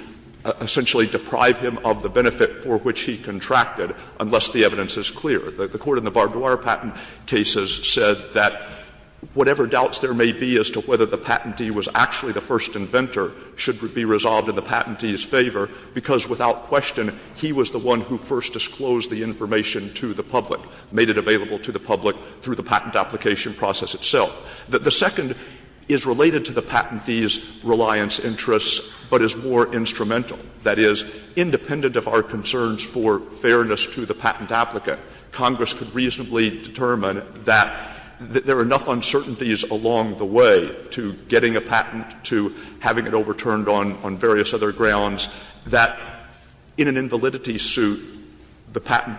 essentially deprive him of the benefit for which he contracted, unless the evidence is clear. The Court in the barbed wire patent cases said that whatever doubts there may be as to whether the patentee was actually the first inventor should be resolved in the patentee's favor, because without question, he was the one who first disclosed the information to the public, made it available to the public through the patent application process itself. The second is related to the patentee's reliance interests, but is more instrumental. That is, independent of our concerns for fairness to the patent applicant, Congress could reasonably determine that there are enough uncertainties along the way to getting a patent, to having it overturned on various other grounds, that in an invalidity suit, the patent,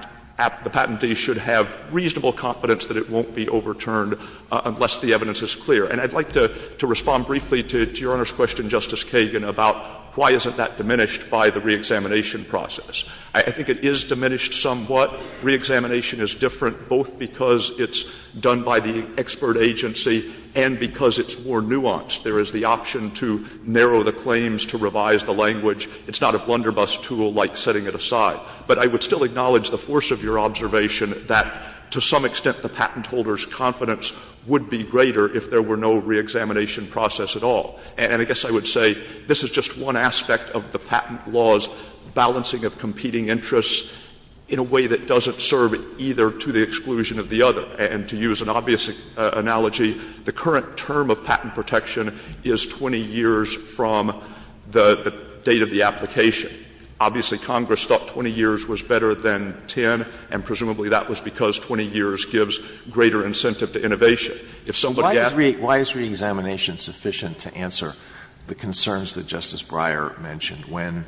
the patentee should have reasonable confidence that it won't be overturned unless the evidence is clear. And I'd like to respond briefly to Your Honor's question, Justice Kagan, about why isn't that diminished by the reexamination process? I think it is diminished somewhat. Reexamination is different both because it's done by the expert agency and because it's more nuanced. There is the option to narrow the claims, to revise the language. It's not a blunderbuss tool like setting it aside. But I would still acknowledge the force of your observation that to some extent the patent holder's confidence would be greater if there were no reexamination process at all. And I guess I would say this is just one aspect of the patent law's balancing of competing interests in a way that doesn't serve either to the exclusion of the other. And to use an obvious analogy, the current term of patent protection is 20 years from the date of the application. Obviously, Congress thought 20 years was better than 10, and presumably that was because 20 years gives greater incentive to innovation. If somebody asked me why is reexamination sufficient to answer the concerns that Justice Breyer mentioned when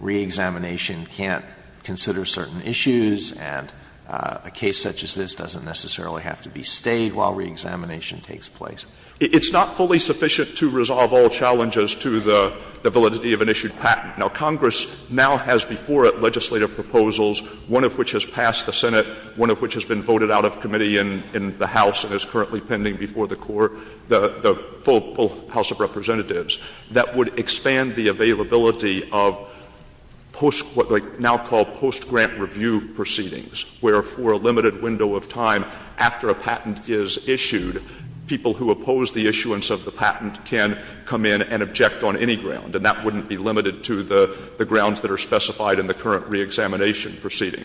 reexamination can't consider certain issues and a case such as this doesn't necessarily have to be stayed while reexamination takes place? It's not fully sufficient to resolve all challenges to the validity of an issued patent. Now, Congress now has before it legislative proposals, one of which has passed the Senate, one of which has been voted out of committee in the House and is currently pending before the court, the full House of Representatives, that would expand the availability of post what they now call post-grant review proceedings, where for a limited window of time after a patent is issued, people who oppose the issuance of the patent can come in and object on any ground, and that wouldn't be limited to the grounds that are specified in the current reexamination proceeding.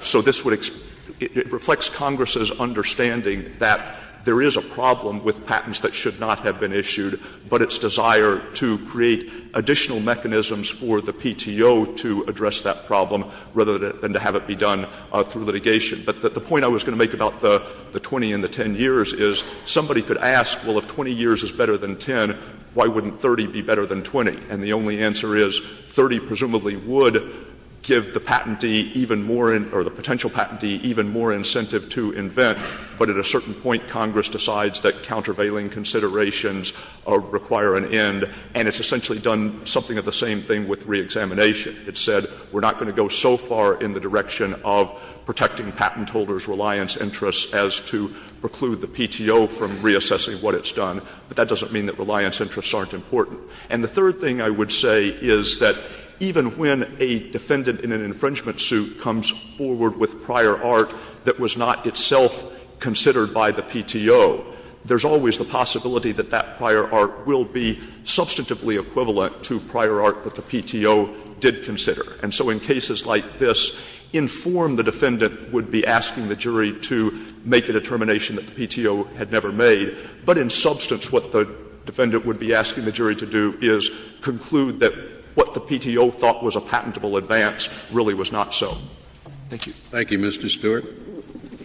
So this would expand the availability of post-grant review proceedings, and it reflects Congress's understanding that there is a problem with patents that should not have been issued, but its desire to create additional mechanisms for the PTO to address that problem rather than to have it be done through litigation. But the point I was going to make about the 20 and the 10 years is somebody could ask, well, if 20 years is better than 10, why wouldn't 30 be better than 20? And the only answer is, 30 presumably would give the patentee even more in — or the potential patentee even more incentive to invent, but at a certain point Congress decides that countervailing considerations require an end, and it's essentially done something of the same thing with reexamination. It said we're not going to go so far in the direction of protecting patent holders' reliance interests as to preclude the PTO from reassessing what it's done, but that doesn't mean that reliance interests aren't important. And the third thing I would say is that even when a defendant in an infringement suit comes forward with prior art that was not itself considered by the PTO, there's always the possibility that that prior art will be substantively equivalent to prior art that the PTO did consider. And so in cases like this, inform the defendant would be asking the jury to make a determination that the PTO had never made, but in substance what the defendant would be asking the jury to do is conclude that what the PTO thought was a patentable advance really was not so. Thank you. Thank you, Mr. Stewart.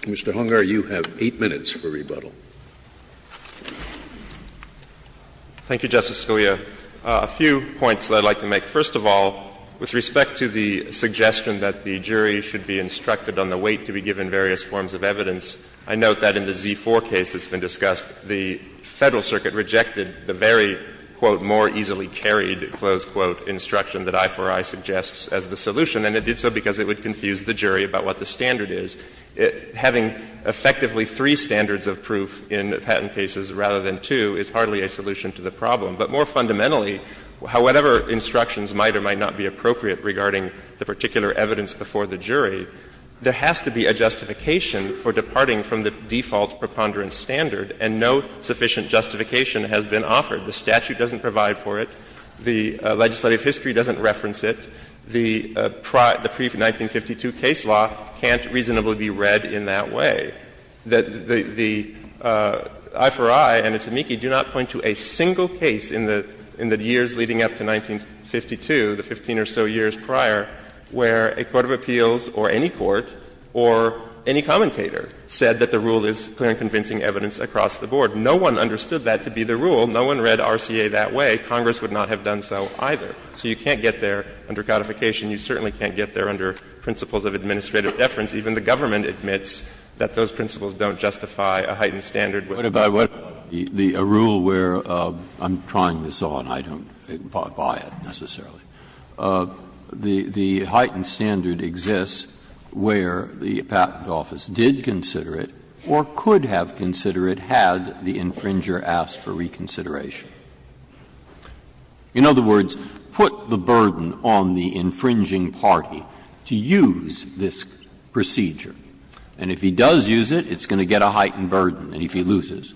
Mr. Hungar, you have 8 minutes for rebuttal. Thank you, Justice Scalia. A few points that I'd like to make. First of all, with respect to the suggestion that the jury should be instructed on the weight to be given various forms of evidence, I note that in the Z-4 case that's been discussed, the Federal Circuit rejected the very, quote, more easily carried, close quote, instruction that I-4-I suggests as the solution, and it did so because it would confuse the jury about what the standard is. Having effectively three standards of proof in patent cases rather than two is hardly a solution to the problem. But more fundamentally, however instructions might or might not be appropriate regarding the particular evidence before the jury, there has to be a justification for departing from the default preponderance standard, and no sufficient justification has been offered. The statute doesn't provide for it. The legislative history doesn't reference it. The pre-1952 case law can't reasonably be read in that way. The I-4-I and its amici do not point to a single case in the years leading up to 1952, the 15 or so years prior, where a court of appeals or any court or any commentator said that the rule is clear and convincing evidence across the board. No one understood that to be the rule. No one read RCA that way. Congress would not have done so either. So you can't get there under codification. You certainly can't get there under principles of administrative deference. Even the government admits that those principles don't justify a heightened Breyer, what about the rule where, I'm trying this on, I don't buy it necessarily. The heightened standard exists where the Patent Office did consider it or could have considered it had the infringer asked for reconsideration. In other words, put the burden on the infringing party to use this procedure. And if he does use it, it's going to get a heightened burden, and if he loses.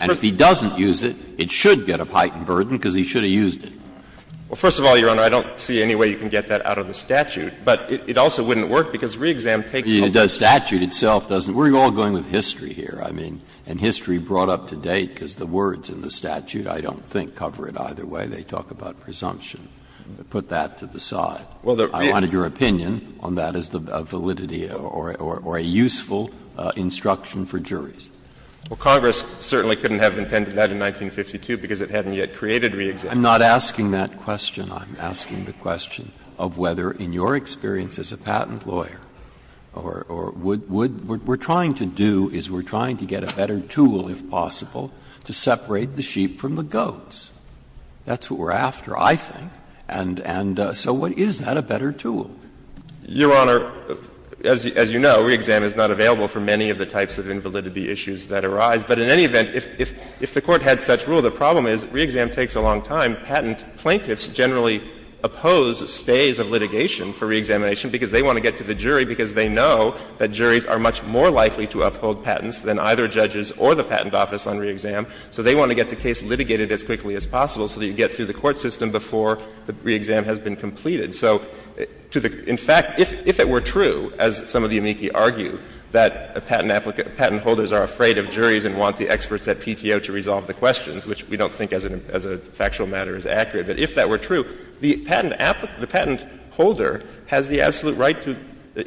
And if he doesn't use it, it should get a heightened burden, because he should have used it. Well, first of all, Your Honor, I don't see any way you can get that out of the statute. But it also wouldn't work, because re-exam takes place. The statute itself doesn't. We're all going with history here, I mean, and history brought up to date because the words in the statute. I don't think cover it either way. They talk about presumption. Put that to the side. I wanted your opinion on that as the validity or a useful instruction for juries. Well, Congress certainly couldn't have intended that in 1952 because it hadn't yet created re-exam. I'm not asking that question. I'm asking the question of whether, in your experience as a patent lawyer, or would we're trying to do is we're trying to get a better tool, if possible, to separate the sheep from the goats. That's what we're after, I think. And so what is that, a better tool? Your Honor, as you know, re-exam is not available for many of the types of invalidity issues that arise. But in any event, if the Court had such rule, the problem is re-exam takes a long time. Patent plaintiffs generally oppose stays of litigation for re-examination because they want to get to the jury because they know that juries are much more likely to uphold patents than either judges or the patent office on re-exam. So they want to get the case litigated as quickly as possible so that you get through the court system before the re-exam has been completed. So to the — in fact, if it were true, as some of the amici argue, that patent applicant — patent holders are afraid of juries and want the experts at PTO to resolve the questions, which we don't think as a factual matter is accurate, but if that were true, the patent applicant — the patent holder has the absolute right to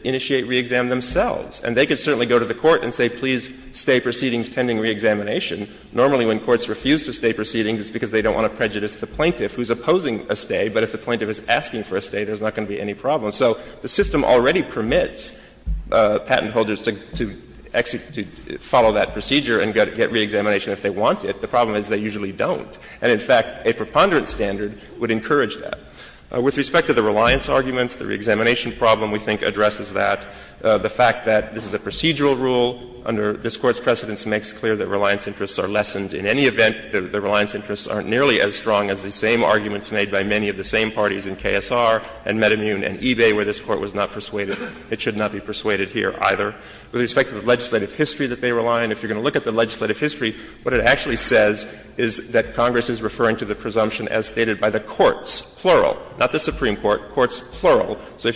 initiate re-exam themselves. And they could certainly go to the Court and say, please, stay proceedings pending re-examination. Normally, when courts refuse to stay proceedings, it's because they don't want to prejudice the plaintiff who's opposing a stay. But if the plaintiff is asking for a stay, there's not going to be any problem. So the system already permits patent holders to follow that procedure and get re-examination if they want it. The problem is they usually don't. And, in fact, a preponderance standard would encourage that. With respect to the reliance arguments, the re-examination problem, we think, addresses that. The fact that this is a procedural rule under this Court's precedence makes clear that reliance interests are lessened in any event, the reliance interests aren't nearly as strong as the same arguments made by many of the same parties in KSR and Metamune and eBay where this Court was not persuaded. It should not be persuaded here either. With respect to the legislative history that they rely on, if you're going to look at the legislative history, what it actually says is that Congress is referring to the presumption as stated by the courts, plural, not the Supreme Court, courts, plural. So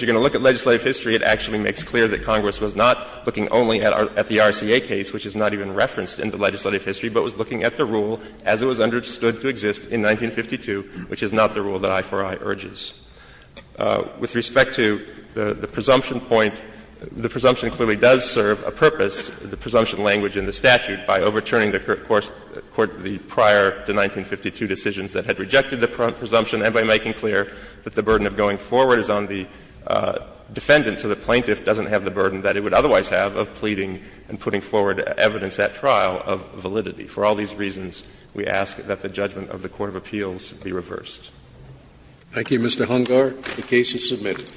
Congress was not looking only at the RCA case, which is not even referenced in the legislative history, but was looking at the rule as it was understood to exist in 1952, which is not the rule that I4I urges. With respect to the presumption point, the presumption clearly does serve a purpose, the presumption language in the statute, by overturning the Court's prior to 1952 decisions that had rejected the presumption and by making clear that the burden of going forward is on the defendant, so the plaintiff doesn't have the burden that it would otherwise have of pleading and putting forward evidence at trial of validity. For all these reasons, we ask that the judgment of the court of appeals be reversed. Thank you, Mr. Hungar. The case is submitted.